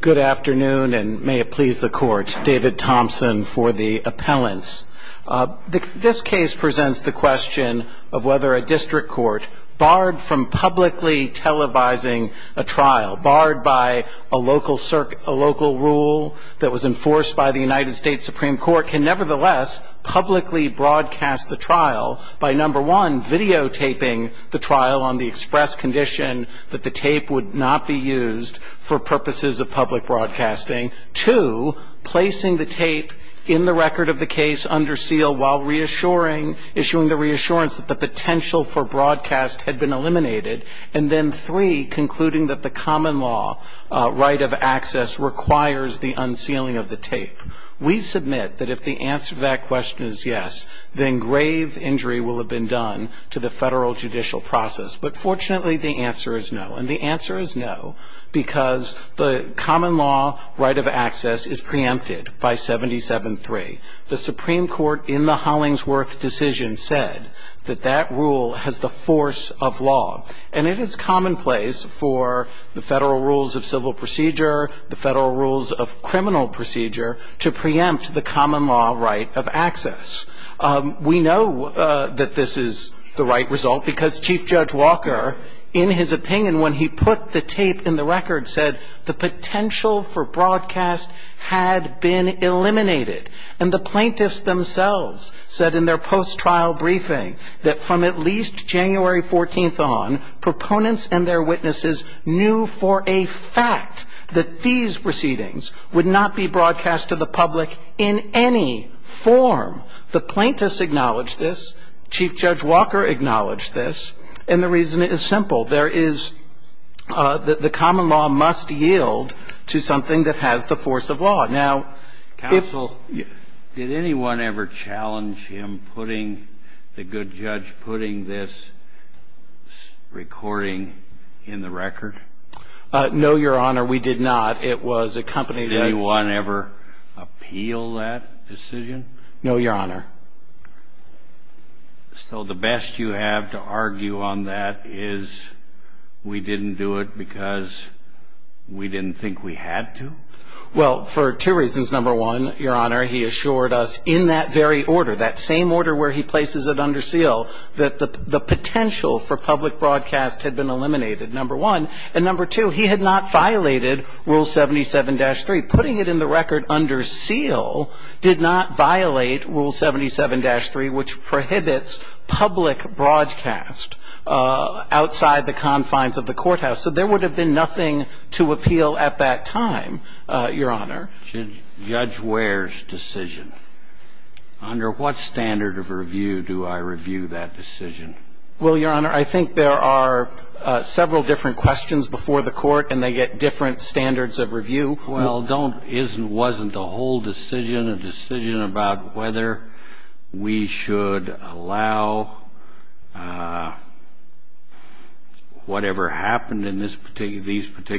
Good afternoon and may it please the Court, David Thompson for the appellants. This case presents the question of whether a district court barred from publicly televising a trial, barred by a local rule that was enforced by the United States Supreme Court, can nevertheless publicly broadcast the trial by, number one, videotaping the trial on the express condition that the tape would not be used for purposes of public broadcasting, two, placing the tape in the record of the case under seal while issuing the reassurance that the potential for broadcast had been eliminated, and then three, concluding that the common law right of access requires the unsealing of the tape. We submit that if the answer to that question is yes, then grave injury will have been done to the federal judicial process. But fortunately, the answer is no, and the answer is no because the common law right of access is preempted by 77-3. The Supreme Court in the Hollingsworth decision said that that rule has the force of law, and it is commonplace for the federal rules of civil procedure, the federal rules of criminal procedure, to preempt the common law right of access. We know that this is the right result because Chief Judge Walker, in his opinion, when he put the tape in the record, said the potential for broadcast had been eliminated. And the plaintiffs themselves said in their post-trial briefing that from at least January 14th on, proponents and their witnesses knew for a fact that these proceedings would not be broadcast to the public in any form. The plaintiffs acknowledged this. Chief Judge Walker acknowledged this. And the reason is simple. There is the common law must yield to something that has the force of law. Counsel, did anyone ever challenge him, the good judge, putting this recording in the record? No, Your Honor, we did not. Did anyone ever appeal that decision? No, Your Honor. So the best you have to argue on that is we didn't do it because we didn't think we had to? Well, for two reasons, number one, Your Honor, he assured us in that very order, that same order where he places it under seal, that the potential for public broadcast had been eliminated, number one. And number two, he had not violated Rule 77-3. Putting it in the record under seal did not violate Rule 77-3, which prohibits public broadcast outside the confines of the courthouse. So there would have been nothing to appeal at that time, Your Honor. Judge Ware's decision, under what standard of review do I review that decision? Well, Your Honor, I think there are several different questions before the Court, Well, Your Honor, under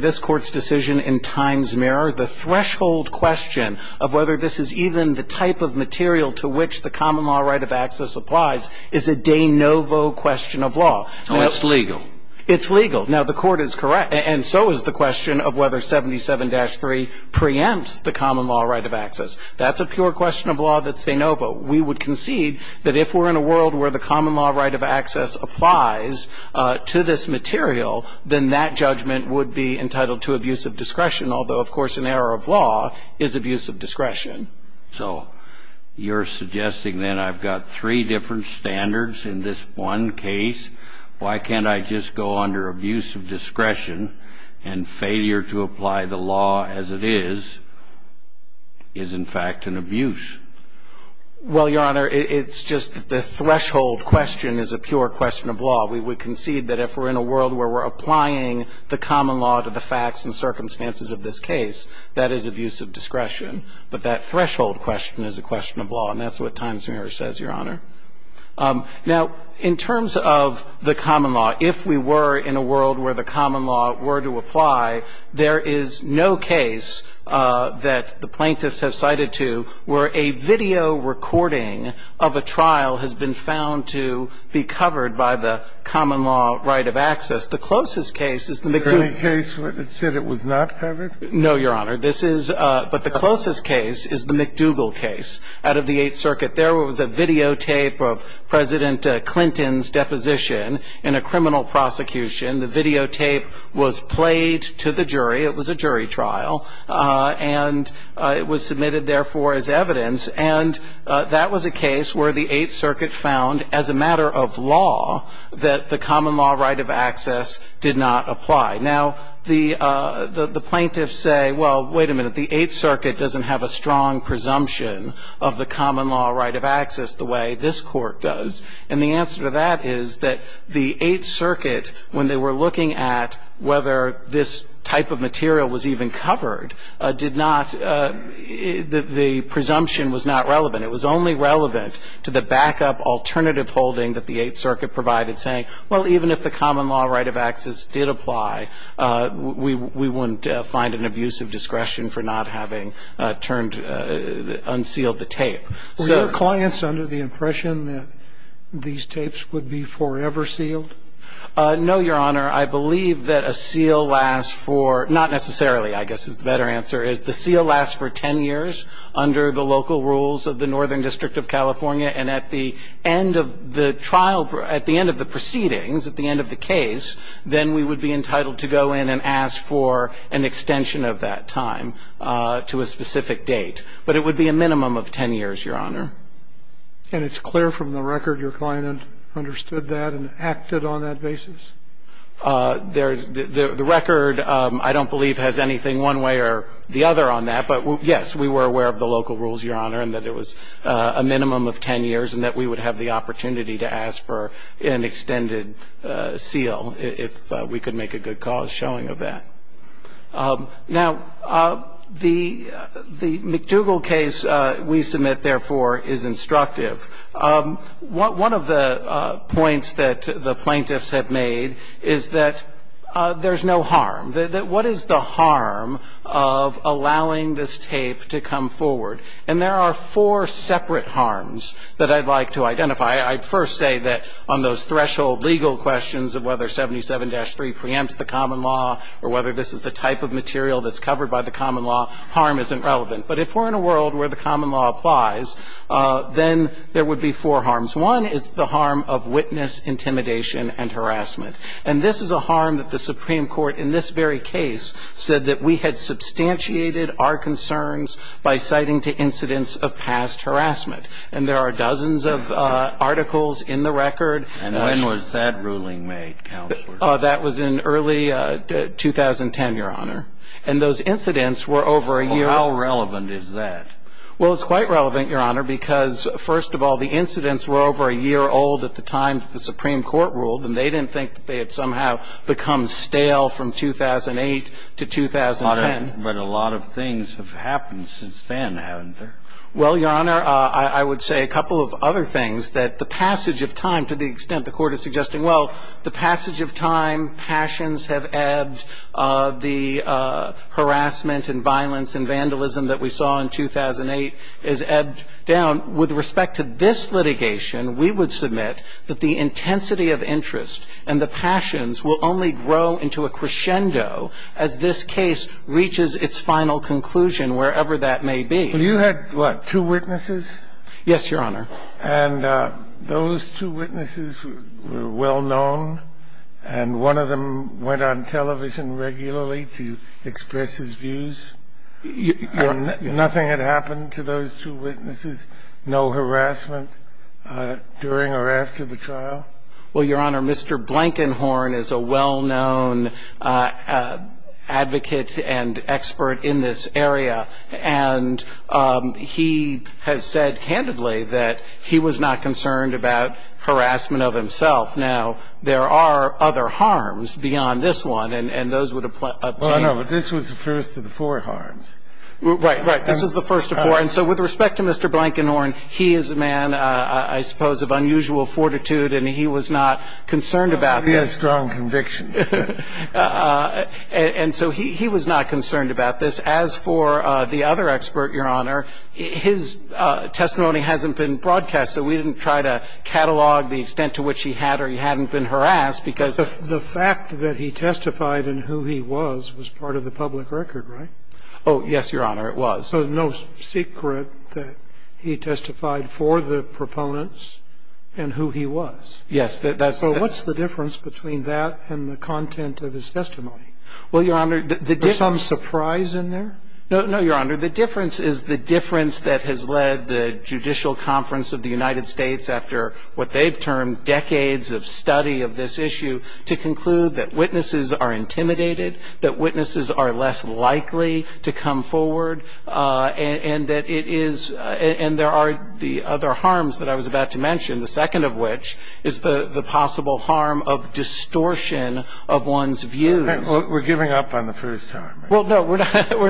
this Court's decision in Times-Mirror, the threshold question of whether this is even the type of material to which the common law right of access is subject to is not a question of the Court's discretion. is a de novo question of law. Oh, it's legal. It's legal. Now, the Court is correct, and so is the question of whether 77-3 preempts the common law right of access. That's a pure question of law that's de novo. We would concede that if we're in a world where the common law right of access applies to this material, then that judgment would be entitled to abusive discretion, although, of course, an error of law is abusive discretion. So you're suggesting, then, I've got three different standards in this one case. Why can't I just go under abusive discretion and failure to apply the law as it is is, in fact, an abuse? Well, Your Honor, it's just the threshold question is a pure question of law. We would concede that if we're in a world where we're applying the common law to the facts and circumstances of this case, that is abusive discretion. But that threshold question is a question of law, and that's what Times-Muir says, Your Honor. Now, in terms of the common law, if we were in a world where the common law were to apply, there is no case that the plaintiffs have cited to where a video recording of a trial has been found to be covered by the common law right of access. The closest case is the McGill. Is there any case that said it was not covered? No, Your Honor. But the closest case is the McDougall case out of the Eighth Circuit. There was a videotape of President Clinton's deposition in a criminal prosecution. The videotape was played to the jury. It was a jury trial, and it was submitted, therefore, as evidence. And that was a case where the Eighth Circuit found, as a matter of law, that the common law right of access did not apply. Now, the plaintiffs say, well, wait a minute. The Eighth Circuit doesn't have a strong presumption of the common law right of access the way this Court does. And the answer to that is that the Eighth Circuit, when they were looking at whether this type of material was even covered, did not – the presumption was not relevant. It was only relevant to the backup alternative holding that the Eighth Circuit provided, saying, well, even if the common law right of access did apply, we wouldn't find an abuse of discretion for not having turned – unsealed the tape. Were your clients under the impression that these tapes would be forever sealed? No, Your Honor. I believe that a seal lasts for – not necessarily, I guess is the better answer – is the seal lasts for 10 years under the local rules of the Northern District of California, and at the end of the trial – at the end of the proceedings, at the end of the case, then we would be entitled to go in and ask for an extension of that time to a specific date. But it would be a minimum of 10 years, Your Honor. And it's clear from the record your client understood that and acted on that basis? There's – the record, I don't believe, has anything one way or the other on that. But, yes, we were aware of the local rules, Your Honor, and that it was a minimum of 10 years and that we would have the opportunity to ask for an extended seal if we could make a good cause showing of that. Now, the McDougall case we submit, therefore, is instructive. One of the points that the plaintiffs have made is that there's no harm. That what is the harm of allowing this tape to come forward? And there are four separate harms that I'd like to identify. I'd first say that on those threshold legal questions of whether 77-3 preempts the common law or whether this is the type of material that's covered by the common law, harm isn't relevant. But if we're in a world where the common law applies, then there would be four harms. One is the harm of witness intimidation and harassment. And this is a harm that the Supreme Court, in this very case, said that we had substantiated our concerns by citing to incidents of past harassment. And there are dozens of articles in the record. And when was that ruling made, Counselor? That was in early 2010, Your Honor. And those incidents were over a year. Well, how relevant is that? Well, it's quite relevant, Your Honor, because, first of all, the incidents were over a year old at the time that the Supreme Court ruled, and they didn't think that they had somehow become stale from 2008 to 2010. But a lot of things have happened since then, haven't they? Well, Your Honor, I would say a couple of other things, that the passage of time, to the extent the Court is suggesting, well, the passage of time, passions have ebbed, the harassment and violence and vandalism that we saw in 2008 is ebbed down. With respect to this litigation, we would submit that the intensity of interest and the passions will only grow into a crescendo as this case reaches its final conclusion, wherever that may be. But you had, what, two witnesses? Yes, Your Honor. And those two witnesses were well known, and one of them went on television regularly to express his views. Nothing had happened to those two witnesses? No harassment during or after the trial? Well, Your Honor, Mr. Blankenhorn is a well-known advocate and expert in this area, and he has said candidly that he was not concerned about harassment of himself. Now, there are other harms beyond this one, and those would apply up to you. Well, I know, but this was the first of the four harms. Right, right. This is the first of four. And so with respect to Mr. Blankenhorn, he is a man, I suppose, of unusual fortitude, and he was not concerned about this. He has strong convictions. And so he was not concerned about this. As for the other expert, Your Honor, his testimony hasn't been broadcast, so we didn't try to catalog the extent to which he had or he hadn't been harassed because of the fact that he testified and who he was. But the fact that he testified and who he was was part of the public record, right? Oh, yes, Your Honor, it was. So there's no secret that he testified for the proponents and who he was. Yes, that's the thing. So what's the difference between that and the content of his testimony? Well, Your Honor, the difference — Was there some surprise in there? No, Your Honor. The difference is the difference that has led the Judicial Conference of the United States after what they've termed decades of study of this issue to conclude that witnesses are intimidated, that witnesses are less likely to come forward, and that it is — and there are the other harms that I was about to mention, the second of which is the possible harm of distortion of one's views. We're giving up on the first harm, right? Well, no, we're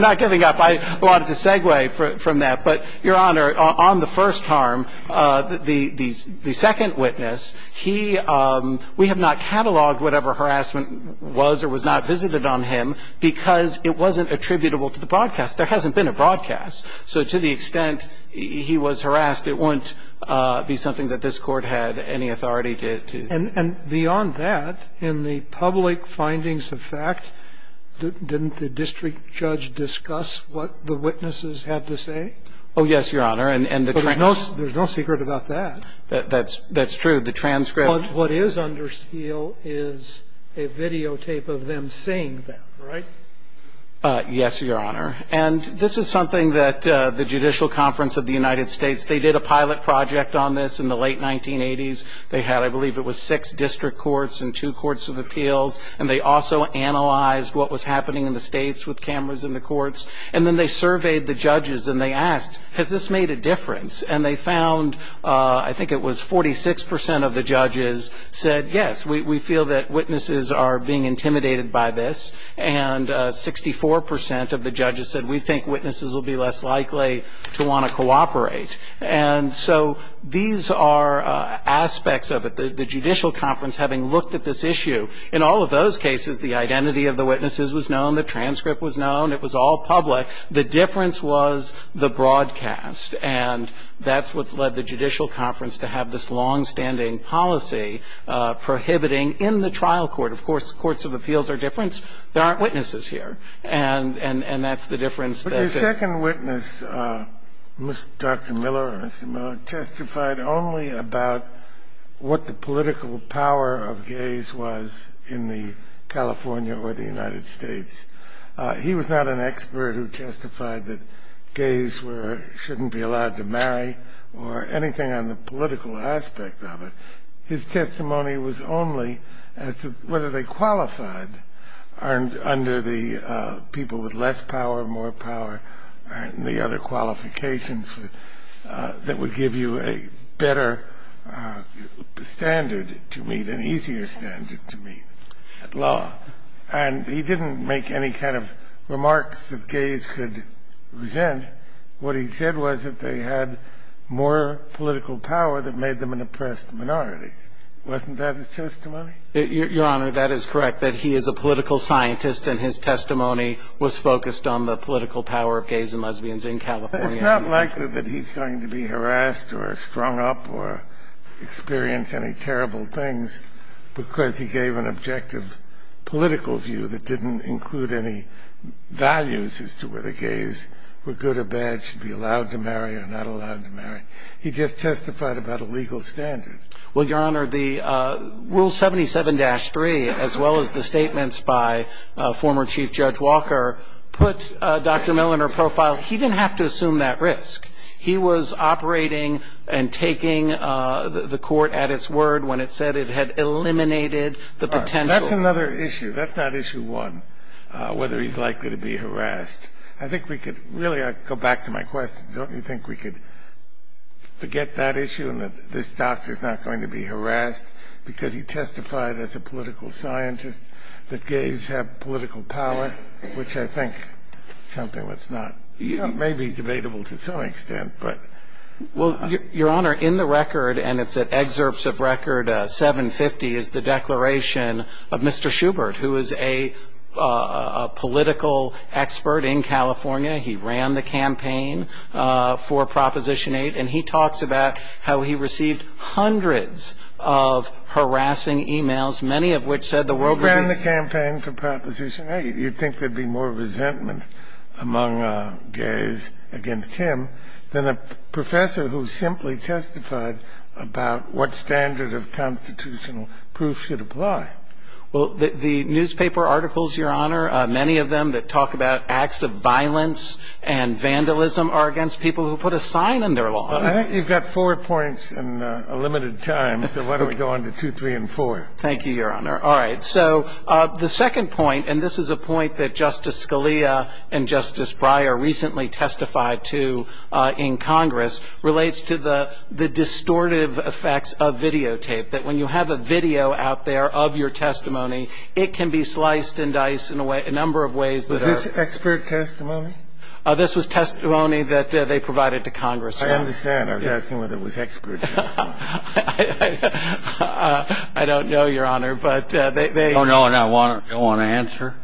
not giving up. I wanted to segue from that. But, Your Honor, on the first harm, the second witness, he — we have not cataloged whatever harassment was or was not visited on him because it wasn't attributable to the broadcast. There hasn't been a broadcast. So to the extent he was harassed, it wouldn't be something that this Court had any authority to do. And beyond that, in the public findings of fact, didn't the district judge discuss what the witnesses had to say? Oh, yes, Your Honor. And the transcript — But there's no secret about that. That's true. The transcript — But what is under seal is a videotape of them saying that, right? Yes, Your Honor. And this is something that the Judicial Conference of the United States — they did a pilot project on this in the late 1980s. They had, I believe, it was six district courts and two courts of appeals. And they also analyzed what was happening in the states with cameras in the courts. And then they surveyed the judges and they asked, has this made a difference? And they found, I think it was 46 percent of the judges said, yes, we feel that witnesses are being intimidated by this. And 64 percent of the judges said, we think witnesses will be less likely to want to cooperate. And so these are aspects of it. And I think that's what led the Judicial Conference, having looked at this issue. In all of those cases, the identity of the witnesses was known. The transcript was known. It was all public. The difference was the broadcast. And that's what's led the Judicial Conference to have this longstanding policy prohibiting in the trial court. Of course, courts of appeals are different. There aren't witnesses here. And that's the difference. Your second witness, Dr. Miller, testified only about what the political power of gays was in the California or the United States. He was not an expert who testified that gays shouldn't be allowed to marry or anything on the political aspect of it. His testimony was only as to whether they qualified under the people with less power, more power, and the other qualifications that would give you a better standard to meet, an easier standard to meet at law. And he didn't make any kind of remarks that gays could resent. What he said was that they had more political power that made them an oppressed minority. Wasn't that his testimony? Your Honor, that is correct, that he is a political scientist and his testimony was focused on the political power of gays and lesbians in California. It's not likely that he's going to be harassed or strung up or experience any terrible things because he gave an objective political view that didn't include any values as to whether gays were good or bad, should be allowed to marry or not allowed to marry. He just testified about a legal standard. Well, Your Honor, the Rule 77-3, as well as the statements by former Chief Judge Walker, put Dr. Miller in her profile. He didn't have to assume that risk. He was operating and taking the court at its word when it said it had eliminated the potential. That's another issue. That's not issue one, whether he's likely to be harassed. I think we could really go back to my question. Don't you think we could forget that issue and that this doctor is not going to be harassed because he testified as a political scientist that gays have political power, which I think is something that's not maybe debatable to some extent, but. Well, Your Honor, in the record, and it's at excerpts of record 750, is the declaration of Mr. Schubert, who is a political expert in California. He ran the campaign for Proposition 8, and he talks about how he received hundreds of harassing e-mails, many of which said the world would be ---- You'd think there'd be more resentment among gays against him than a professor who simply testified about what standard of constitutional proof should apply. Well, the newspaper articles, Your Honor, many of them that talk about acts of violence and vandalism are against people who put a sign in their law. I think you've got four points and a limited time, so why don't we go on to two, three, and four. Thank you, Your Honor. All right. So the second point, and this is a point that Justice Scalia and Justice Breyer recently testified to in Congress, relates to the distortive effects of videotape, that when you have a video out there of your testimony, it can be sliced and diced in a number of ways that are ---- Was this expert testimony? This was testimony that they provided to Congress. I understand. I was asking whether it was expert testimony. I don't know, Your Honor, but they ---- You don't know and you don't want to answer?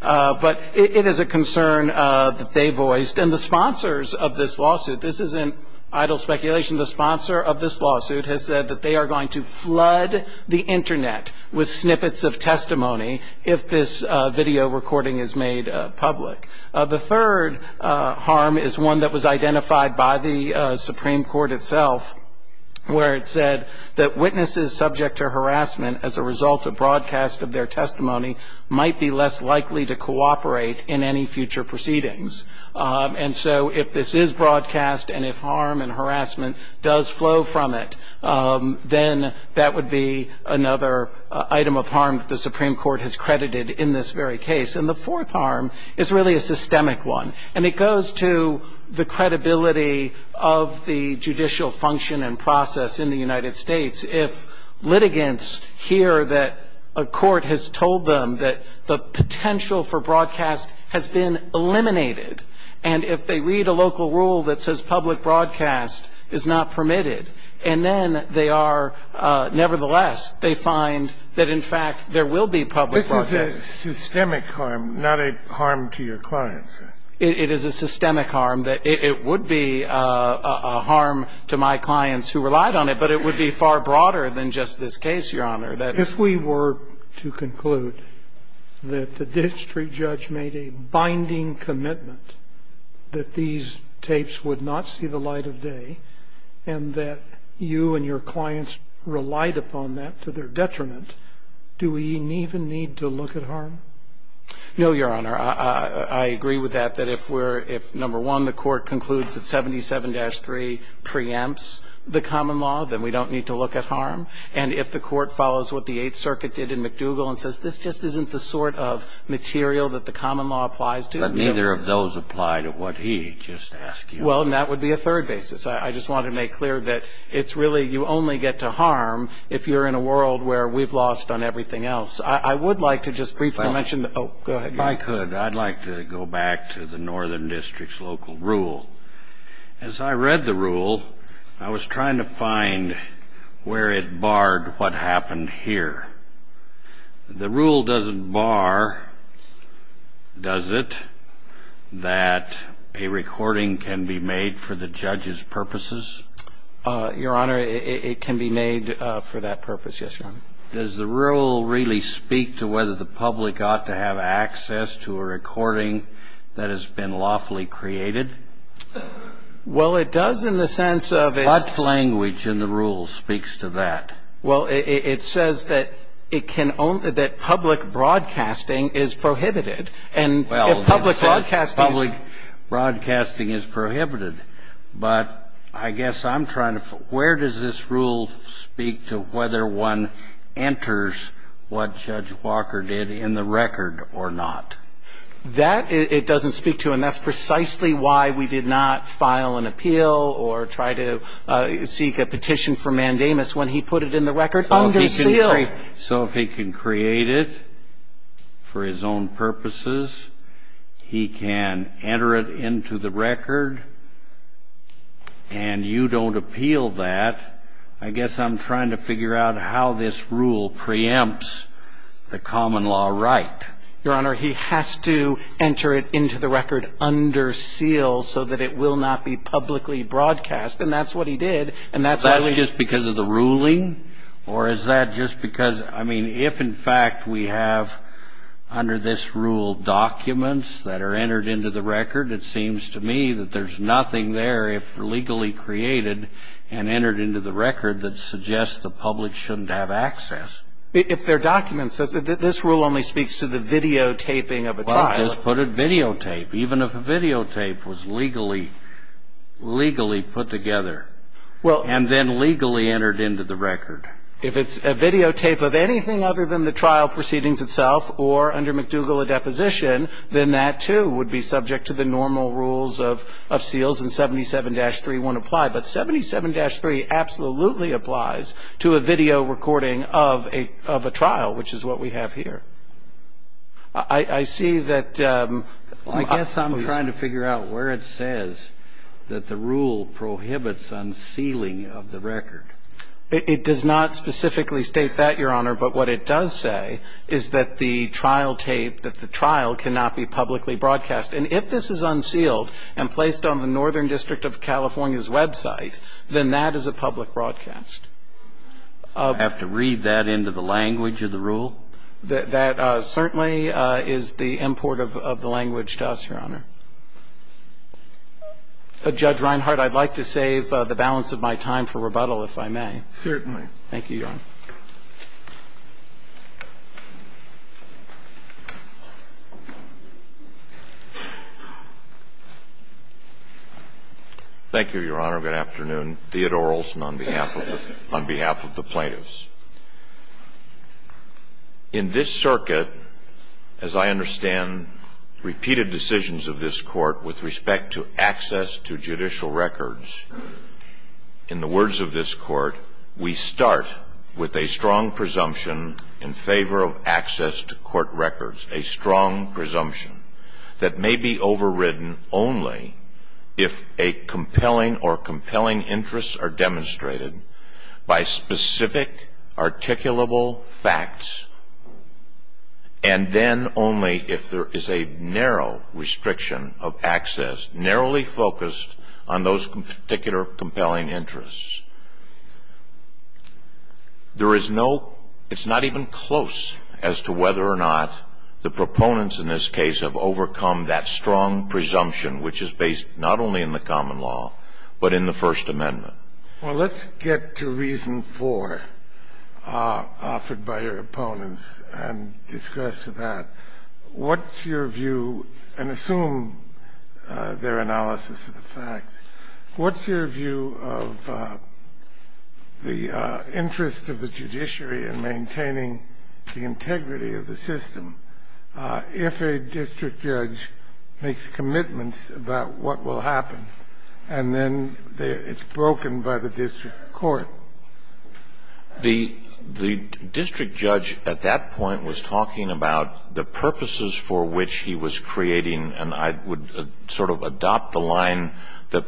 But it is a concern that they voiced. And the sponsors of this lawsuit, this isn't idle speculation, the sponsor of this lawsuit has said that they are going to flood the Internet with snippets of testimony if this video recording is made public. The third harm is one that was identified by the Supreme Court itself where it said that witnesses subject to harassment as a result of broadcast of their testimony might be less likely to cooperate in any future proceedings. And so if this is broadcast and if harm and harassment does flow from it, then that would be another item of harm that the Supreme Court has credited in this very case. And the fourth harm is really a systemic one. And it goes to the credibility of the judicial function and process in the United States. If litigants hear that a court has told them that the potential for broadcast has been eliminated, and if they read a local rule that says public broadcast is not permitted, and then they are nevertheless, they find that in fact there will be public broadcast. This is a systemic harm, not a harm to your clients. It is a systemic harm. It would be a harm to my clients who relied on it, but it would be far broader than just this case, Your Honor. If we were to conclude that the district judge made a binding commitment that these tapes would not see the light of day and that you and your clients relied upon that to their detriment, do we even need to look at harm? No, Your Honor. I agree with that, that if we're, if, number one, the court concludes that 77-3 preempts the common law, then we don't need to look at harm. And if the court follows what the Eighth Circuit did in McDougall and says, this just isn't the sort of material that the common law applies to. But neither of those apply to what he just asked you. Well, and that would be a third basis. I just wanted to make clear that it's really you only get to harm if you're in a world where we've lost on everything else. I would like to just briefly mention the – oh, go ahead. If I could, I'd like to go back to the Northern District's local rule. As I read the rule, I was trying to find where it barred what happened here. The rule doesn't bar, does it, that a recording can be made for the judge's purposes? Your Honor, it can be made for that purpose, yes, Your Honor. Does the rule really speak to whether the public ought to have access to a recording that has been lawfully created? Well, it does in the sense of it's – What language in the rule speaks to that? Well, it says that it can only – that public broadcasting is prohibited. And if public broadcasting – Well, it says public broadcasting is prohibited, but I guess I'm trying to – where does this rule speak to whether one enters what Judge Walker did in the record or not? That it doesn't speak to, and that's precisely why we did not file an appeal or try to seek a petition for mandamus when he put it in the record under seal. So if he can create it for his own purposes, he can enter it into the record, and you don't appeal that, I guess I'm trying to figure out how this rule preempts the common law right. Your Honor, he has to enter it into the record under seal so that it will not be publicly broadcast, and that's what he did. Is that just because of the ruling, or is that just because – I mean, if in fact we have under this rule documents that are entered into the record, it seems to me that there's nothing there if legally created and entered into the record that suggests the public shouldn't have access. If they're documents, this rule only speaks to the videotaping of a trial. Even if a videotape was legally put together and then legally entered into the record. If it's a videotape of anything other than the trial proceedings itself or under McDougall a deposition, then that too would be subject to the normal rules of seals, and 77-3 won't apply, but 77-3 absolutely applies to a video recording of a trial, which is what we have here. I see that – I guess I'm trying to figure out where it says that the rule prohibits unsealing of the record. It does not specifically state that, Your Honor, but what it does say is that the trial tape, that the trial cannot be publicly broadcast. And if this is unsealed and placed on the Northern District of California's website, then that is a public broadcast. I have to read that into the language of the rule? That certainly is the import of the language to us, Your Honor. Judge Reinhart, I'd like to save the balance of my time for rebuttal, if I may. Thank you, Your Honor. Thank you, Your Honor. Good afternoon. Theodore Olson on behalf of the plaintiffs. In this circuit, as I understand repeated decisions of this Court with respect to access to judicial records, in the words of this Court, we start with a strong presumption in favor of access to court records, a strong presumption that may be overridden only if a compelling or compelling interests are demonstrated by specific articulable facts, and then only if there is a narrow restriction of access, narrowly focused on those particular compelling interests. There is no, it's not even close as to whether or not the proponents in this case have overcome that strong presumption, which is based not only in the common law, but in the First Amendment. Well, let's get to reason four offered by your opponents and discuss that. What's your view, and assume their analysis of the facts, what's your view of the interest of the judiciary in maintaining the integrity of the system if a district judge makes commitments about what will happen and then it's broken by the district court? The district judge at that point was talking about the purposes for which he was creating and I would sort of adopt the line that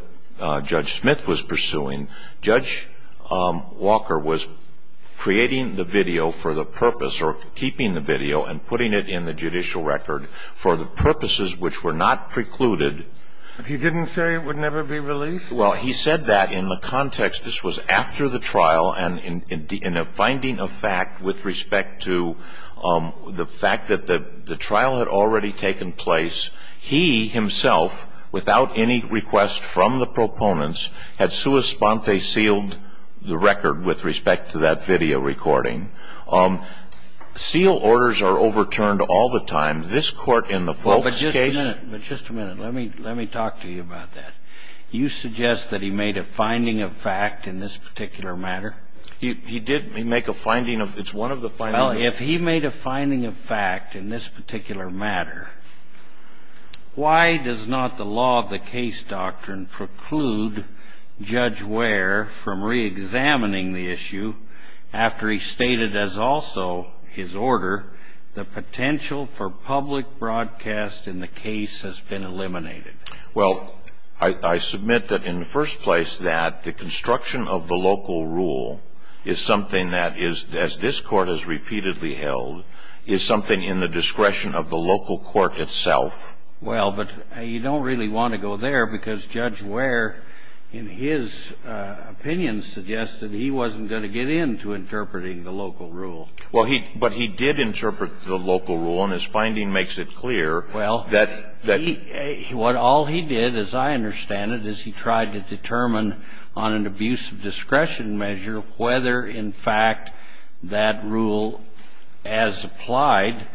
Judge Smith was pursuing. Judge Walker was creating the video for the purpose or keeping the video and putting it in the judicial record for the purposes which were not precluded. He didn't say it would never be released? Well, he said that in the context. This was after the trial, and in a finding of fact with respect to the fact that the trial had already taken place, he himself, without any request from the proponents, had sua sponte sealed the record with respect to that video recording. Seal orders are overturned all the time. This Court in the Folk's case. But just a minute. Let me talk to you about that. You suggest that he made a finding of fact in this particular matter? He did make a finding. It's one of the findings. Well, if he made a finding of fact in this particular matter, why does not the law of the case doctrine preclude Judge Ware from reexamining the issue after he stated as also his order the potential for public broadcast in the case has been eliminated? Well, I submit that in the first place that the construction of the local rule is something that is, as this Court has repeatedly held, is something in the discretion of the local court itself. Well, but you don't really want to go there because Judge Ware, in his opinion, suggested he wasn't going to get into interpreting the local rule. Well, he – but he did interpret the local rule, and his finding makes it clear that he – Well, all he did, as I understand it, is he tried to determine on an abuse of discretion measure whether, in fact, that rule as applied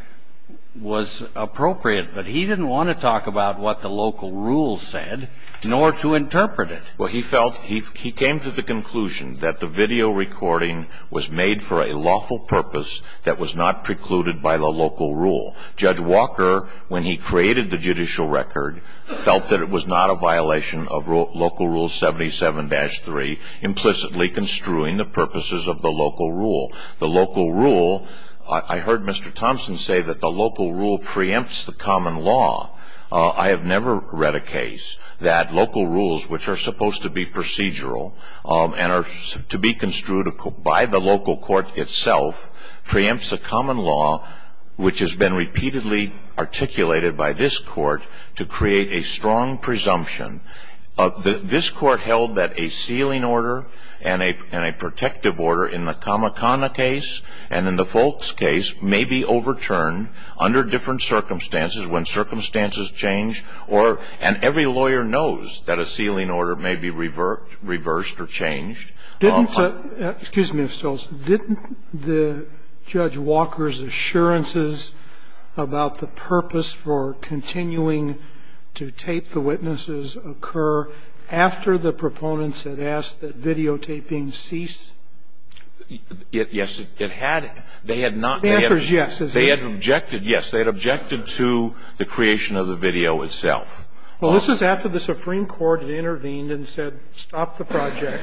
was appropriate. But he didn't want to talk about what the local rule said, nor to interpret Well, he felt – he came to the conclusion that the video recording was made for a lawful purpose that was not precluded by the local rule. Judge Walker, when he created the judicial record, felt that it was not a violation of local rule 77-3, implicitly construing the purposes of the local rule. The local rule – I heard Mr. Thompson say that the local rule preempts the common law. I have never read a case that local rules, which are supposed to be procedural and are to be construed by the local court itself, preempts the common law, which has been repeatedly articulated by this court to create a strong presumption. This court held that a sealing order and a protective order in the Kamakana case and in the Foulkes case may be overturned under different circumstances when circumstances change or – and every lawyer knows that a sealing order may be reversed or changed. Didn't the – excuse me, Mr. Stolz. Didn't the Judge Walker's assurances about the purpose for continuing to tape the witnesses occur after the proponents had asked that videotaping cease? Yes, it had. They had not. The answer is yes. They had objected, yes. They had objected to the creation of the video itself. Well, this was after the Supreme Court had intervened and said, stop the project.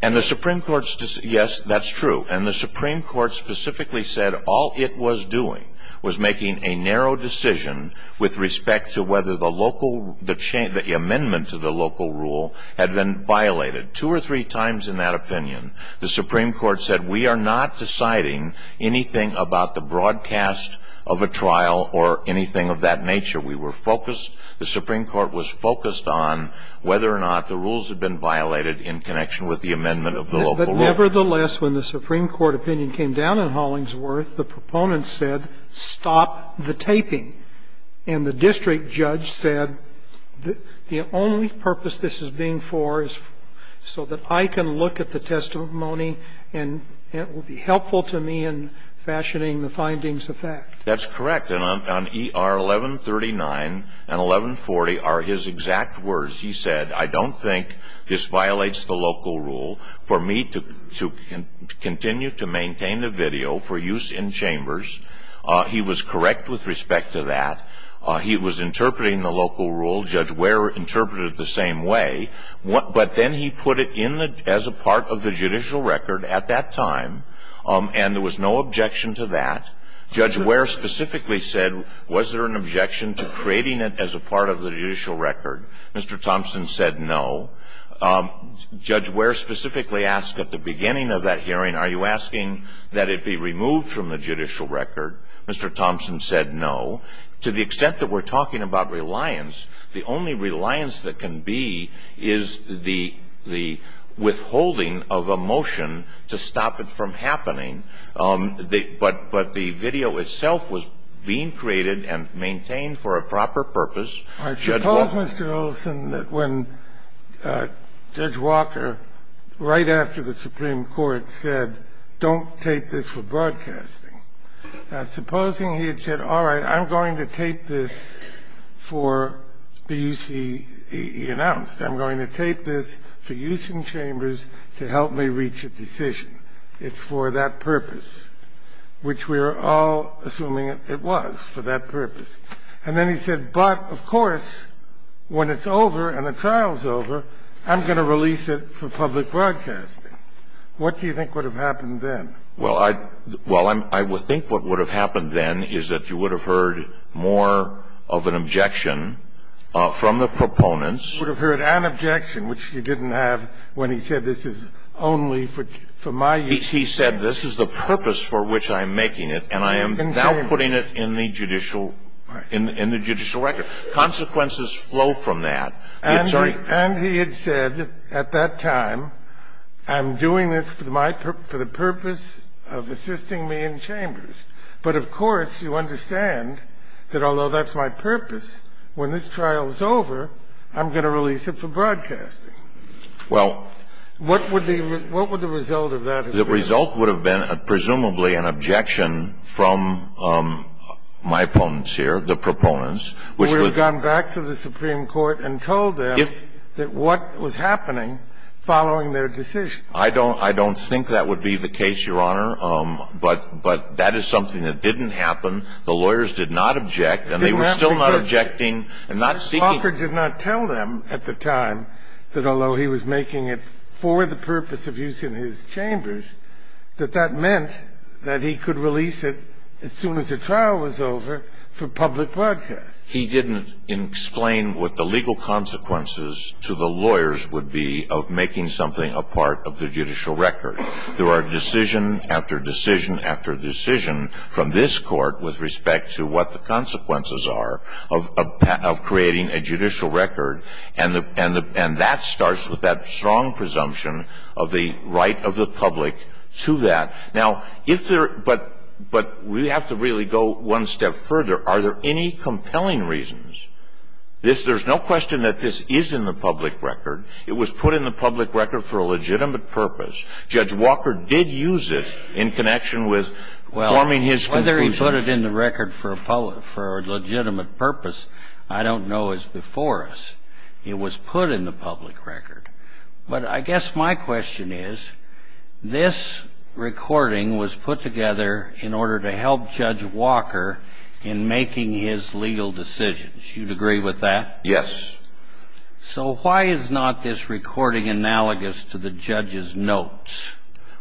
And the Supreme Court's – yes, that's true. And the Supreme Court specifically said all it was doing was making a narrow decision with respect to whether the local – the amendment to the local rule had been violated in connection with the amendment of the local rule. But nevertheless, when the Supreme Court opinion came down in Hollingsworth, the proponents said, stop the taping. And the district judge said, the only purpose this is being for is for the purpose And the district judge said, stop the taping. So that I can look at the testimony and it will be helpful to me in fashioning the findings of fact. That's correct. And on ER 1139 and 1140 are his exact words. He said, I don't think this violates the local rule for me to continue to maintain the video for use in chambers. He was correct with respect to that. He was interpreting the local rule. Judge Ware interpreted it the same way. But then he put it in the – as a part of the judicial record at that time. And there was no objection to that. Judge Ware specifically said, was there an objection to creating it as a part of the judicial record? Mr. Thompson said no. Judge Ware specifically asked at the beginning of that hearing, are you asking that it be removed from the judicial record? Mr. Thompson said no. To the extent that we're talking about reliance, the only reliance that can be is the withholding of a motion to stop it from happening. But the video itself was being created and maintained for a proper purpose. I suppose, Mr. Olson, that when Judge Walker, right after the Supreme Court said, don't take this for broadcasting. Now, supposing he had said, all right, I'm going to tape this for the use he announced. I'm going to tape this for use in chambers to help me reach a decision. It's for that purpose, which we are all assuming it was, for that purpose. And then he said, but, of course, when it's over and the trial's over, I'm going to release it for public broadcasting. What do you think would have happened then? Well, I think what would have happened then is that you would have heard more of an objection from the proponents. You would have heard an objection, which you didn't have when he said this is only for my use. He said this is the purpose for which I'm making it, and I am now putting it in the judicial record. Right. Consequences flow from that. And he had said at that time, I'm doing this for the purpose of assisting me in chambers. But, of course, you understand that although that's my purpose, when this trial is over, I'm going to release it for broadcasting. Well. What would the result of that have been? The result would have been presumably an objection from my opponents here, the proponents, who would have gone back to the Supreme Court and told them that what was happening following their decision. I don't think that would be the case, Your Honor. But that is something that didn't happen. The lawyers did not object, and they were still not objecting and not seeking. Walker did not tell them at the time that although he was making it for the purpose of using his chambers, that that meant that he could release it as soon as the trial was over for public broadcast. He didn't explain what the legal consequences to the lawyers would be of making something a part of the judicial record. There are decision after decision after decision from this Court with respect to what the consequences are of creating a judicial record. And that starts with that strong presumption of the right of the public to that. Now, if there – but we have to really go one step further. Are there any compelling reasons? There's no question that this is in the public record. It was put in the public record for a legitimate purpose. Judge Walker did use it in connection with forming his conclusion. Well, whether he put it in the record for a legitimate purpose, I don't know, is before us. It was put in the public record. But I guess my question is, this recording was put together in order to help Judge Walker in making his legal decisions. You'd agree with that? Yes. So why is not this recording analogous to the judge's notes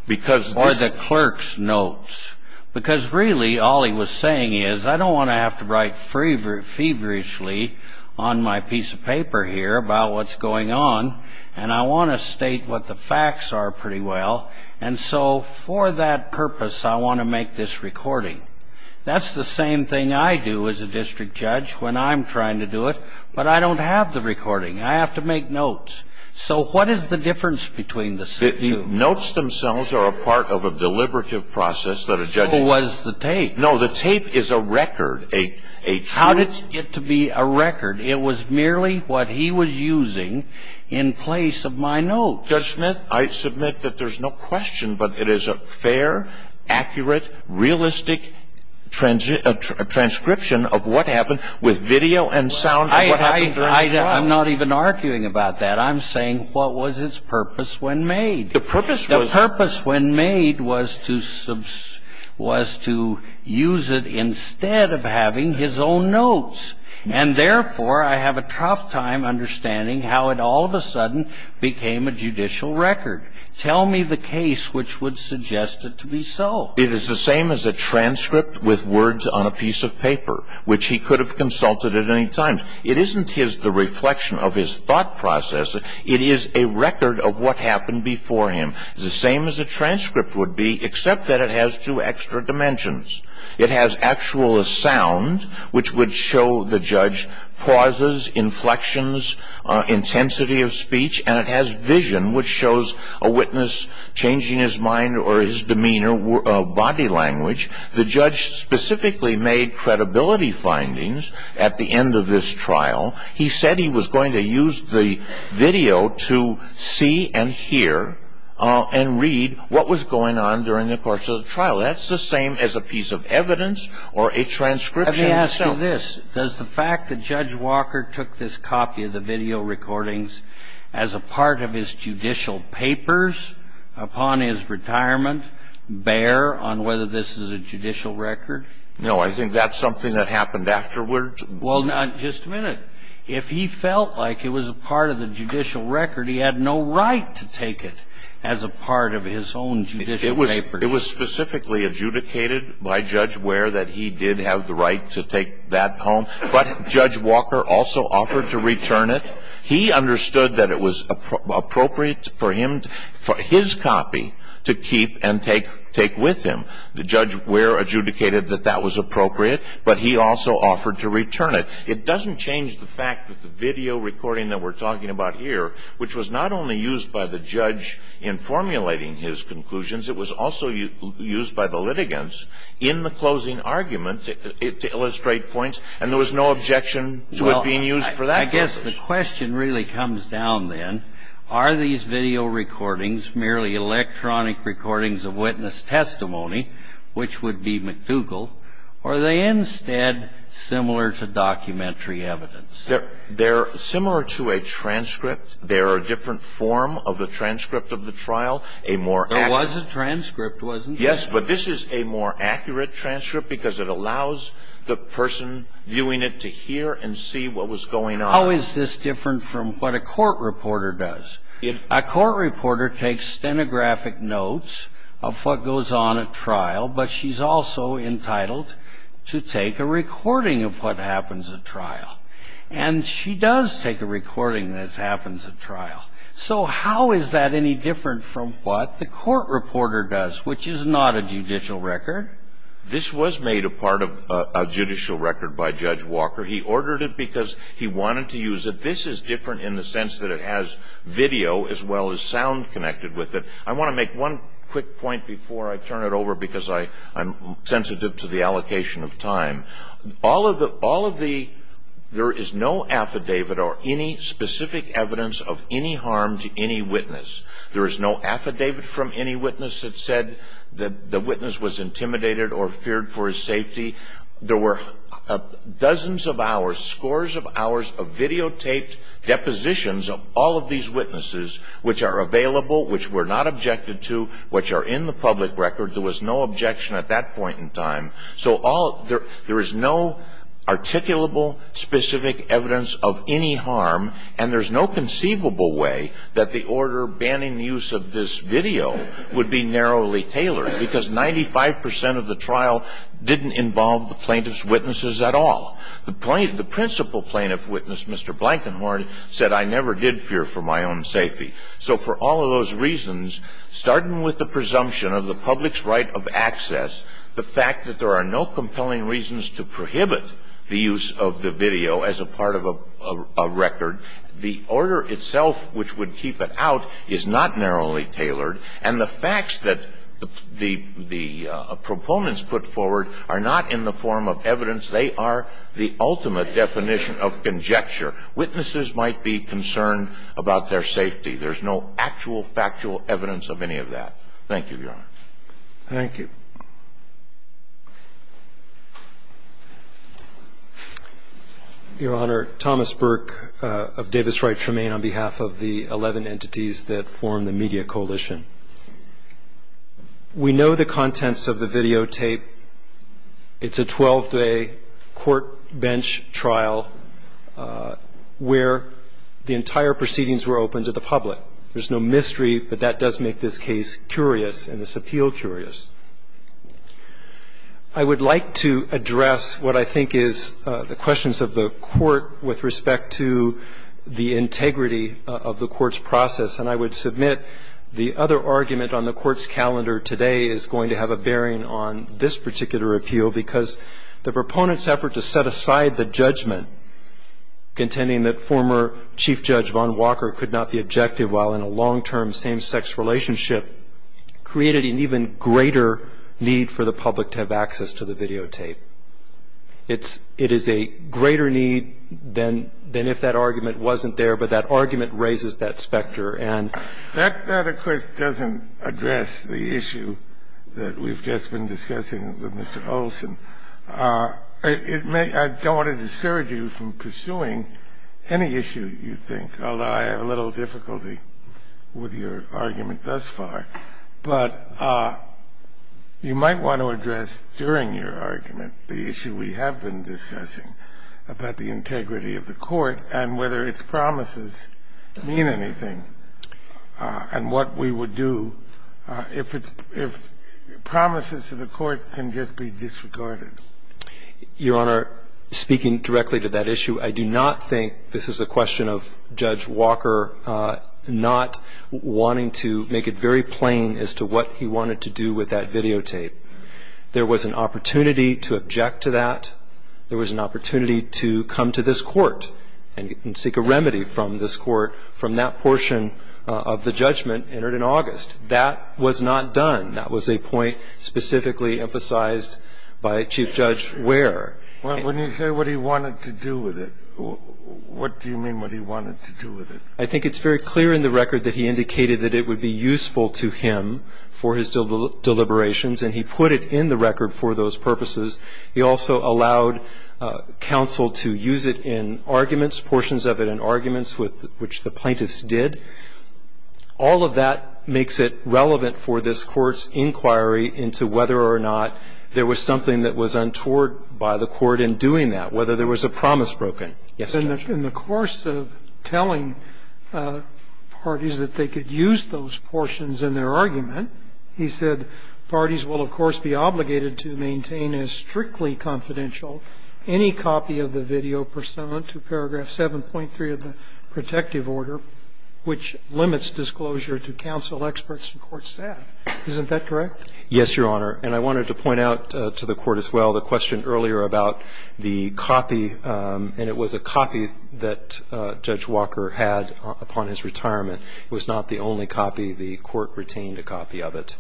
or the clerk's notes? Because really all he was saying is, I don't want to have to write feverishly on my piece of paper here about what's going on, and I want to state what the facts are pretty well. And so for that purpose, I want to make this recording. That's the same thing I do as a district judge when I'm trying to do it, but I don't have the recording. I have to make notes. So what is the difference between the two? The notes themselves are a part of a deliberative process that a judge – So was the tape. No, the tape is a record, a true – How did it get to be a record? It was merely what he was using in place of my notes. Judge Smith, I submit that there's no question, but it is a fair, accurate, realistic transcription of what happened with video and sound and what happened during the trial. I'm not even arguing about that. I'm saying what was its purpose when made? The purpose was – The purpose when made was to use it instead of having his own notes, and therefore I have a tough time understanding how it all of a sudden became a judicial record. Tell me the case which would suggest it to be so. It is the same as a transcript with words on a piece of paper, which he could have consulted at any time. It isn't the reflection of his thought process. It is a record of what happened before him. It's the same as a transcript would be, except that it has two extra dimensions. It has actual sound, which would show the judge pauses, inflections, intensity of speech, and it has vision, which shows a witness changing his mind or his demeanor, body language. The judge specifically made credibility findings at the end of this trial. He said he was going to use the video to see and hear and read what was going on during the course of the trial. That's the same as a piece of evidence or a transcription. Let me ask you this. Does the fact that Judge Walker took this copy of the video recordings as a part of his judicial papers upon his retirement bear on whether this is a judicial record? No, I think that's something that happened afterwards. Well, just a minute. If he felt like it was a part of the judicial record, he had no right to take it as a part of his own judicial papers. It was specifically adjudicated by Judge Ware that he did have the right to take that home, but Judge Walker also offered to return it. He understood that it was appropriate for his copy to keep and take with him. Judge Ware adjudicated that that was appropriate, but he also offered to return it. It doesn't change the fact that the video recording that we're talking about here, which was not only used by the judge in formulating his conclusions, it was also used by the litigants in the closing argument to illustrate points, and there was no objection to it being used for that purpose. Well, I guess the question really comes down then, are these video recordings merely electronic recordings of witness testimony, which would be McDougall, or are they instead similar to documentary evidence? They're similar to a transcript. They're a different form of a transcript of the trial, a more accurate. There was a transcript, wasn't there? Yes, but this is a more accurate transcript because it allows the person viewing it to hear and see what was going on. How is this different from what a court reporter does? A court reporter takes stenographic notes of what goes on at trial, but she's also entitled to take a recording of what happens at trial. And she does take a recording that happens at trial. So how is that any different from what the court reporter does, which is not a judicial record? This was made a part of a judicial record by Judge Walker. He ordered it because he wanted to use it. This is different in the sense that it has video as well as sound connected with it. I want to make one quick point before I turn it over because I'm sensitive to the allocation of time. There is no affidavit or any specific evidence of any harm to any witness. There is no affidavit from any witness that said the witness was intimidated or feared for his safety. There were dozens of hours, scores of hours of videotaped depositions of all of these witnesses, which are available, which were not objected to, which are in the public record. So there is no articulable specific evidence of any harm, and there's no conceivable way that the order banning use of this video would be narrowly tailored, because 95 percent of the trial didn't involve the plaintiff's witnesses at all. The principal plaintiff witness, Mr. Blankenhorn, said, I never did fear for my own safety. So for all of those reasons, starting with the presumption of the public's right of access, the fact that there are no compelling reasons to prohibit the use of the video as a part of a record, the order itself, which would keep it out, is not narrowly tailored, and the facts that the proponents put forward are not in the form of evidence. They are the ultimate definition of conjecture. Witnesses might be concerned about their safety. There's no actual factual evidence of any of that. Thank you, Your Honor. Thank you. Your Honor, Thomas Burke of Davis Wright Tremaine on behalf of the 11 entities that form the Media Coalition. We know the contents of the videotape. It's a 12-day court bench trial where the entire proceedings were open to the public. I would like to address what I think is the questions of the Court with respect to the integrity of the Court's process, and I would submit the other argument on the Court's calendar today is going to have a bearing on this particular appeal, because the proponent's effort to set aside the judgment, contending that former Chief Judge Vaughn Walker could not be objective while in a long-term same-sex relationship, created an even greater need for the public to have access to the videotape. It is a greater need than if that argument wasn't there, but that argument raises that specter, and that, of course, doesn't address the issue that we've just been discussing with Mr. Olson. I don't want to discourage you from pursuing any issue you think, although I have a little difficulty with your argument thus far. But you might want to address during your argument the issue we have been discussing about the integrity of the Court and whether its promises mean anything and what we can just be disregarded. Your Honor, speaking directly to that issue, I do not think this is a question of Judge Walker not wanting to make it very plain as to what he wanted to do with that videotape. There was an opportunity to object to that. There was an opportunity to come to this Court and seek a remedy from this Court from that portion of the judgment entered in August. That was not done. That was a point specifically emphasized by Chief Judge Ware. When you say what he wanted to do with it, what do you mean what he wanted to do with it? I think it's very clear in the record that he indicated that it would be useful to him for his deliberations, and he put it in the record for those purposes. He also allowed counsel to use it in arguments, portions of it in arguments, which the plaintiffs did. All of that makes it relevant for this Court's inquiry into whether or not there was something that was untoward by the Court in doing that, whether there was a promise broken. Yes, Judge. In the course of telling parties that they could use those portions in their argument, he said parties will, of course, be obligated to maintain as strictly confidential any copy of the video pursuant to paragraph 7.3 of the protective order, which limits disclosure to counsel experts and court staff. Isn't that correct? Yes, Your Honor. And I wanted to point out to the Court as well the question earlier about the copy, and it was a copy that Judge Walker had upon his retirement. It was not the only copy. The Court retained a copy of it.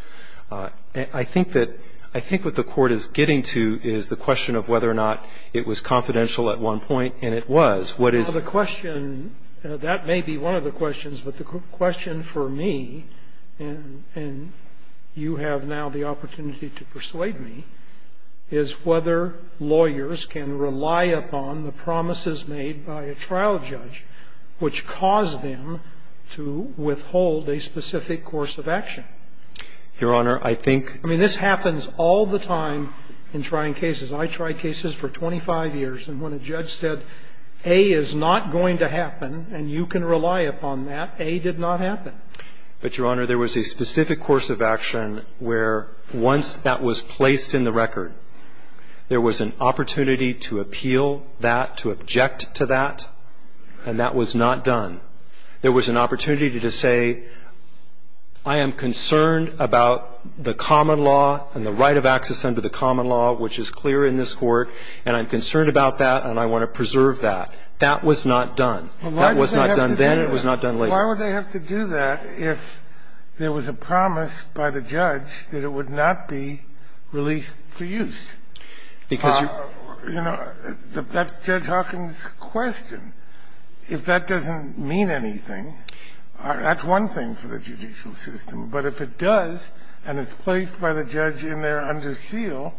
I think that what the Court is getting to is the question of whether or not it was confidential at one point, and it was. What is the question? Well, the question, that may be one of the questions, but the question for me, and you have now the opportunity to persuade me, is whether lawyers can rely upon the promises made by a trial judge which cause them to withhold a specific course of action. Your Honor, I think ---- I mean, this happens all the time in trying cases. I tried cases for 25 years, and when a judge said A is not going to happen and you can rely upon that, A did not happen. But, Your Honor, there was a specific course of action where once that was placed in the record, there was an opportunity to appeal that, to object to that, and that was not done. There was an opportunity to say, I am concerned about the common law and the right of access under the common law, which is clear in this Court, and I'm concerned about that and I want to preserve that. That was not done. That was not done then and it was not done later. Why would they have to do that if there was a promise by the judge that it would not be released for use? You know, that's Judge Hawkins' question. If that doesn't mean anything, that's one thing for the judicial system, but if it does and it's placed by the judge in there under seal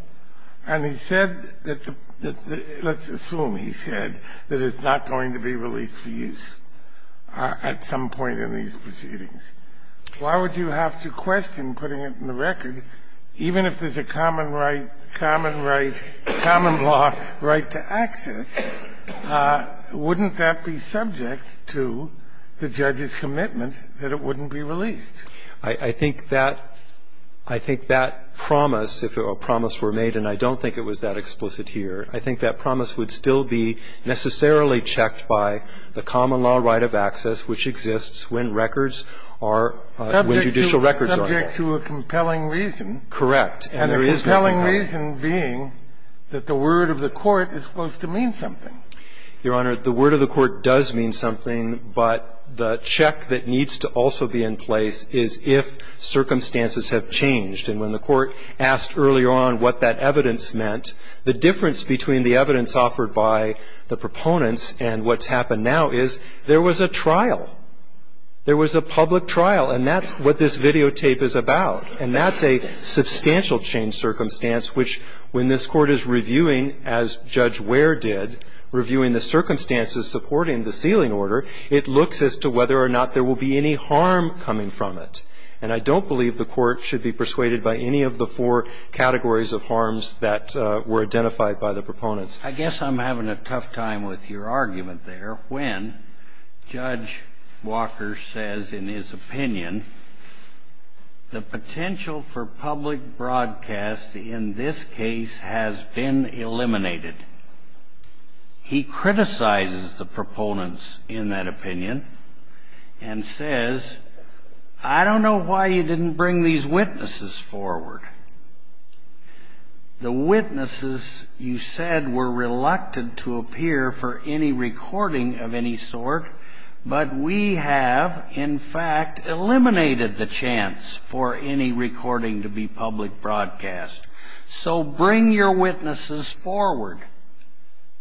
and he said that the ---- let's assume he said that it's not going to be released for use at some point in these proceedings, why would you have to question putting it in the record, even if there's a common right, common right, common law right to access, wouldn't that be subject to the judge's commitment that it wouldn't be released? I think that ---- I think that promise, if a promise were made, and I don't think it was that explicit here, I think that promise would still be necessarily checked by the common law right of access, which exists when records are ---- When judicial records are there. Subject to a compelling reason. Correct. And there is no doubt. And the compelling reason being that the word of the court is supposed to mean something. Your Honor, the word of the court does mean something, but the check that needs to also be in place is if circumstances have changed. And when the court asked earlier on what that evidence meant, the difference between the evidence offered by the proponents and what's happened now is there was a trial. There was a public trial, and that's what this videotape is about. And that's a substantial change circumstance, which when this Court is reviewing, as Judge Ware did, reviewing the circumstances supporting the sealing order, it looks as to whether or not there will be any harm coming from it. And I don't believe the Court should be persuaded by any of the four categories of harms that were identified by the proponents. I guess I'm having a tough time with your argument there when Judge Walker says, in his opinion, the potential for public broadcast in this case has been eliminated. He criticizes the proponents in that opinion and says, I don't know why you didn't bring these witnesses forward. The witnesses, you said, were reluctant to appear for any recording of any sort, but we have, in fact, eliminated the chance for any recording to be public broadcast. So bring your witnesses forward.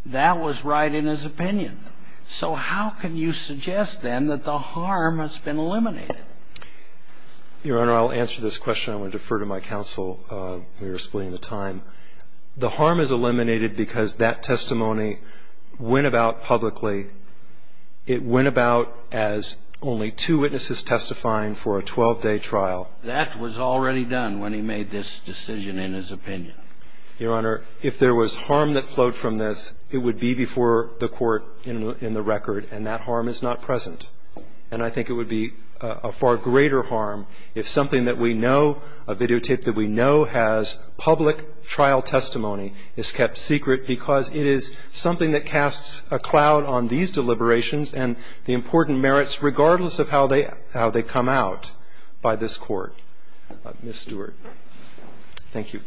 That was right in his opinion. So how can you suggest, then, that the harm has been eliminated? Your Honor, I'll answer this question. I want to defer to my counsel. We are splitting the time. The harm is eliminated because that testimony went about publicly. It went about as only two witnesses testifying for a 12-day trial. That was already done when he made this decision in his opinion. Your Honor, if there was harm that flowed from this, it would be before the Court in the record, and that harm is not present. And I think it would be a far greater harm if something that we know, a videotape that we know has public trial testimony is kept secret because it is something that casts a cloud on these deliberations and the important merits, regardless of how they come out by this Court. Ms. Stewart. Thank you.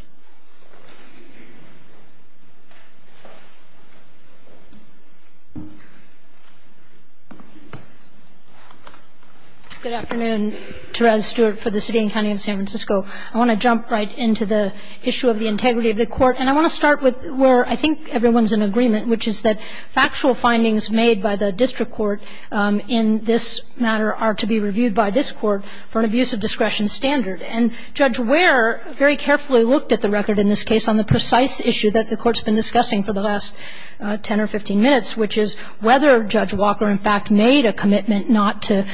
Good afternoon, Therese Stewart for the City and County of San Francisco. I want to jump right into the issue of the integrity of the Court. And I want to start with where I think everyone's in agreement, which is that factual findings made by the district court in this matter are to be reviewed by this Court for an abuse of discretion standard. And Judge Ware very carefully looked at the record in this case on the precise issue that the Court's been discussing for the last 10 or 15 minutes, which is whether Judge Walker in fact made a commitment not to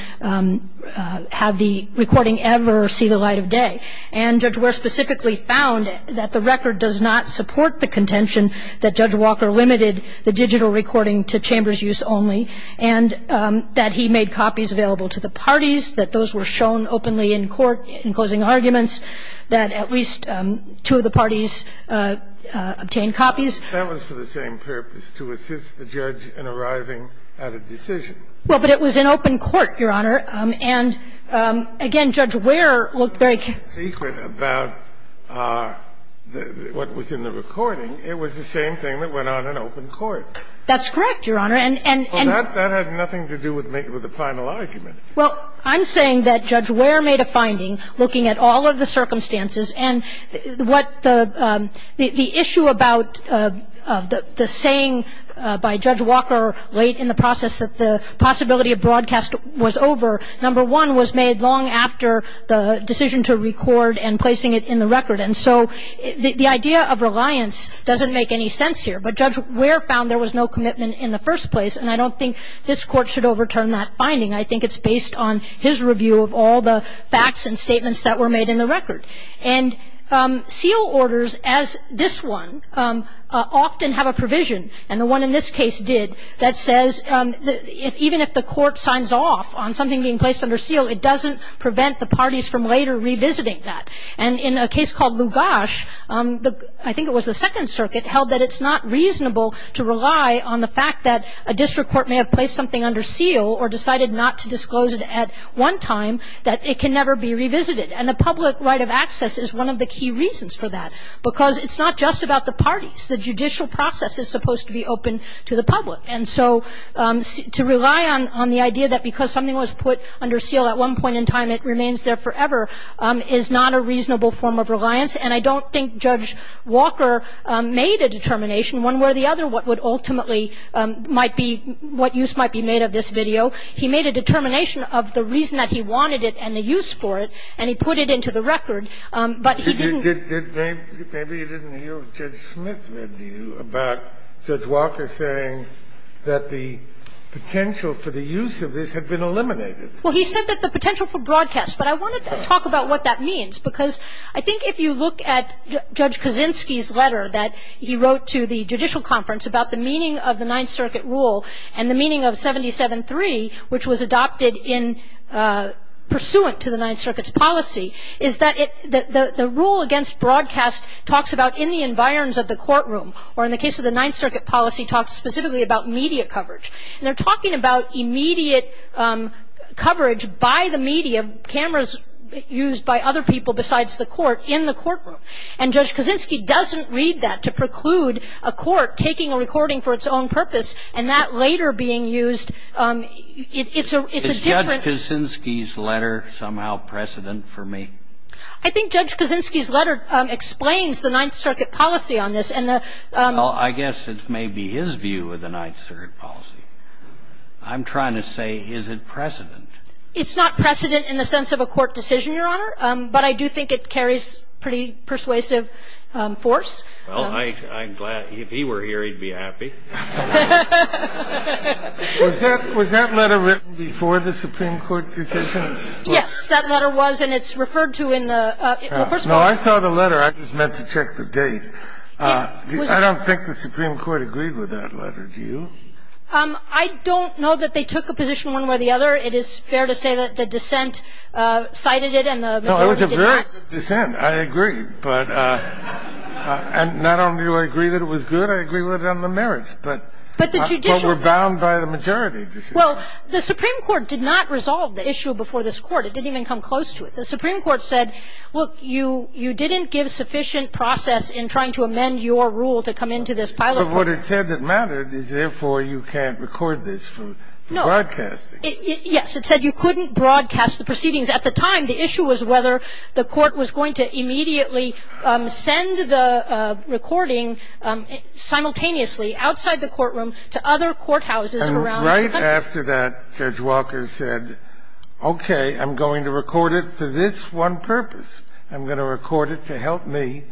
have the recording ever see the light of day. And Judge Ware specifically found that the record does not support the contention that Judge Walker limited the digital recording to chamber's use only and that he made It's what the Court has done. And the Court has made many of the arguments that at least two of the parties obtained copies. That was for the same purpose, to assist the judge in arriving at a decision. Well, but it was an open court, Your Honor. And, again, Judge Ware looked very careful. It's a secret about what was in the recording. It was the same thing that went on in open court. That's correct, Your Honor. Well, that had nothing to do with the final argument. Well, I'm saying that Judge Ware made a finding looking at all of the circumstances and what the issue about the saying by Judge Walker late in the process that the possibility of broadcast was over, number one, was made long after the decision to record and placing it in the record. And so the idea of reliance doesn't make any sense here. But Judge Ware found there was no commitment in the first place, and I don't think this Court should overturn that finding. I think it's based on his review of all the facts and statements that were made in the record. And seal orders, as this one, often have a provision, and the one in this case did, that says even if the court signs off on something being placed under seal, it doesn't prevent the parties from later revisiting that. And in a case called Lugash, I think it was the Second Circuit, held that it's not reasonable to rely on the fact that a district court may have placed something under seal or decided not to disclose it at one time, that it can never be revisited. And the public right of access is one of the key reasons for that, because it's not just about the parties. The judicial process is supposed to be open to the public. And so to rely on the idea that because something was put under seal at one point in time, it remains there forever is not a reasonable form of reliance. And I don't think Judge Walker made a determination, one way or the other, what would ultimately might be what use might be made of this video. He made a determination of the reason that he wanted it and the use for it, and he put it into the record, but he didn't. Maybe you didn't hear what Judge Smith read to you about Judge Walker saying that the potential for the use of this had been eliminated. Well, he said that the potential for broadcast. But I wanted to talk about what that means, because I think if you look at Judge Kaczynski's letter that he wrote to the judicial conference about the meaning of the Ninth Circuit rule and the meaning of 77-3, which was adopted in pursuant to the Ninth Circuit's policy, is that the rule against broadcast talks about in the environs of the courtroom, or in the case of the Ninth Circuit policy, talks specifically about media coverage. And they're talking about immediate coverage by the media, cameras used by other people besides the court in the courtroom. And Judge Kaczynski doesn't read that to preclude a court taking a recording for its own purpose and that later being used. It's a different ---- Is Judge Kaczynski's letter somehow precedent for me? I think Judge Kaczynski's letter explains the Ninth Circuit policy on this. And the ---- Well, I guess it may be his view of the Ninth Circuit policy. I'm trying to say, is it precedent? It's not precedent in the sense of a court decision, Your Honor. But I do think it carries pretty persuasive force. Well, I'm glad. If he were here, he'd be happy. Was that letter written before the Supreme Court decision? Yes, that letter was. And it's referred to in the ---- Well, first of all ---- No, I saw the letter. I just meant to check the date. I don't think the Supreme Court agreed with that letter. Do you? I don't know that they took a position one way or the other. It is fair to say that the dissent cited it and the majority did not. No, it was a very good dissent. I agree. But not only do I agree that it was good, I agree with it on the merits. But the judicial ---- But we're bound by the majority. Well, the Supreme Court did not resolve the issue before this Court. It didn't even come close to it. The Supreme Court said, look, you didn't give sufficient process in trying to amend your rule to come into this pilot court. But what it said that mattered is, therefore, you can't record this for broadcasting. No. Yes. It said you couldn't broadcast the proceedings. At the time, the issue was whether the Court was going to immediately send the recording simultaneously outside the courtroom to other courthouses around the country. And right after that, Judge Walker said, okay, I'm going to record it for this one purpose. I'm going to record it to help me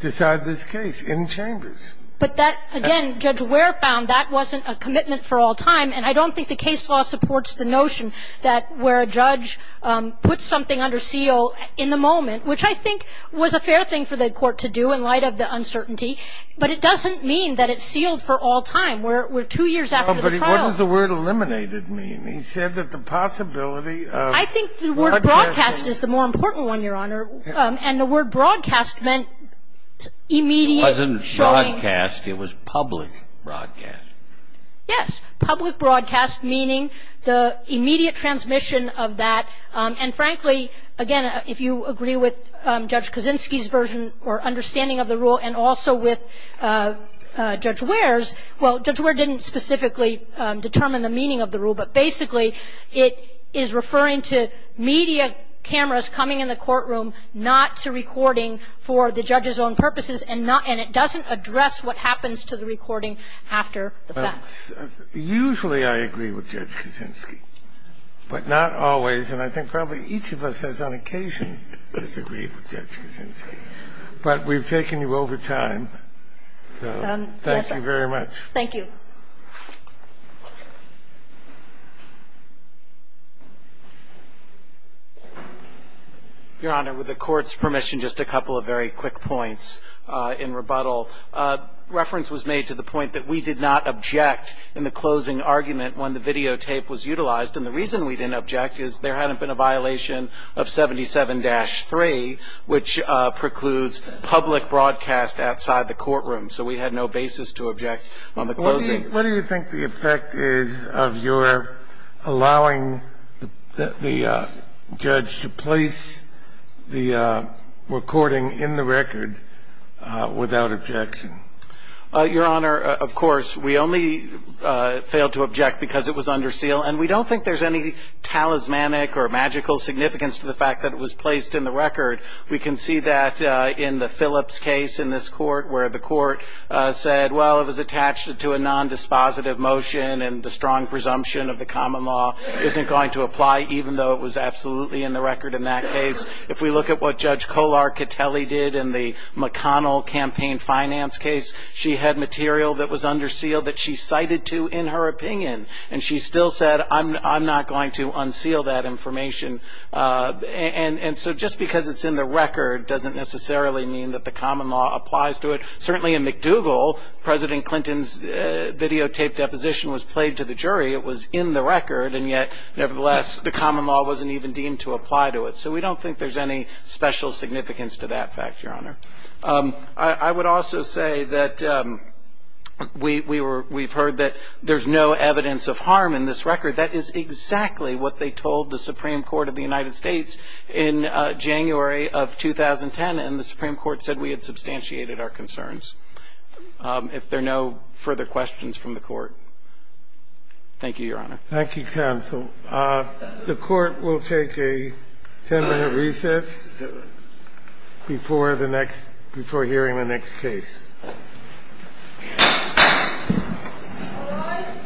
decide this case in chambers. But that, again, Judge Ware found that wasn't a commitment for all time. And I don't think the case law supports the notion that where a judge puts something under seal in the moment, which I think was a fair thing for the Court to do in light of the uncertainty, but it doesn't mean that it's sealed for all time. We're two years after the trial. But what does the word eliminated mean? He said that the possibility of broadcasting. I think the word broadcast is the more important one, Your Honor. And the word broadcast meant immediate showing. It wasn't broadcast. It was public broadcast. Yes. Public broadcast meaning the immediate transmission of that. And, frankly, again, if you agree with Judge Kaczynski's version or understanding of the rule and also with Judge Ware's, well, Judge Ware didn't specifically determine the meaning of the rule. But basically, it is referring to media cameras coming in the courtroom, not to recording for the judge's own purposes, and not – and it doesn't address what happens to the recording after the fact. Usually I agree with Judge Kaczynski, but not always. And I think probably each of us has on occasion disagreed with Judge Kaczynski. But we've taken you over time. So thank you very much. Thank you. Your Honor, with the Court's permission, just a couple of very quick points in rebuttal. Reference was made to the point that we did not object in the closing argument when the videotape was utilized. And the reason we didn't object is there hadn't been a violation of 77-3, which precludes public broadcast outside the courtroom. So we had no basis to object on the closing. What do you think the effect is of your allowing the judge to place the recording in the record without objection? Your Honor, of course, we only failed to object because it was under seal. And we don't think there's any talismanic or magical significance to the fact that it was placed in the record. We can see that in the Phillips case in this court where the court said, well, it was attached to a nondispositive motion and the strong presumption of the common law isn't going to apply, even though it was absolutely in the record in that case. If we look at what Judge Kolar-Kateli did in the McConnell campaign finance case, she had material that was under seal that she cited to in her opinion. And she still said, I'm not going to unseal that information. And so just because it's in the record doesn't necessarily mean that the common law applies to it. Certainly in McDougall, President Clinton's videotaped deposition was played to the jury, it was in the record, and yet, nevertheless, the common law wasn't even deemed to apply to it. So we don't think there's any special significance to that fact, Your Honor. I would also say that we've heard that there's no evidence of harm in this record. That is exactly what they told the Supreme Court of the United States in January of 2010, and the Supreme Court said we had substantiated our concerns. If there are no further questions from the Court, thank you, Your Honor. Thank you, counsel. The Court will take a ten-minute recess before the next – before hearing the next case. All rise.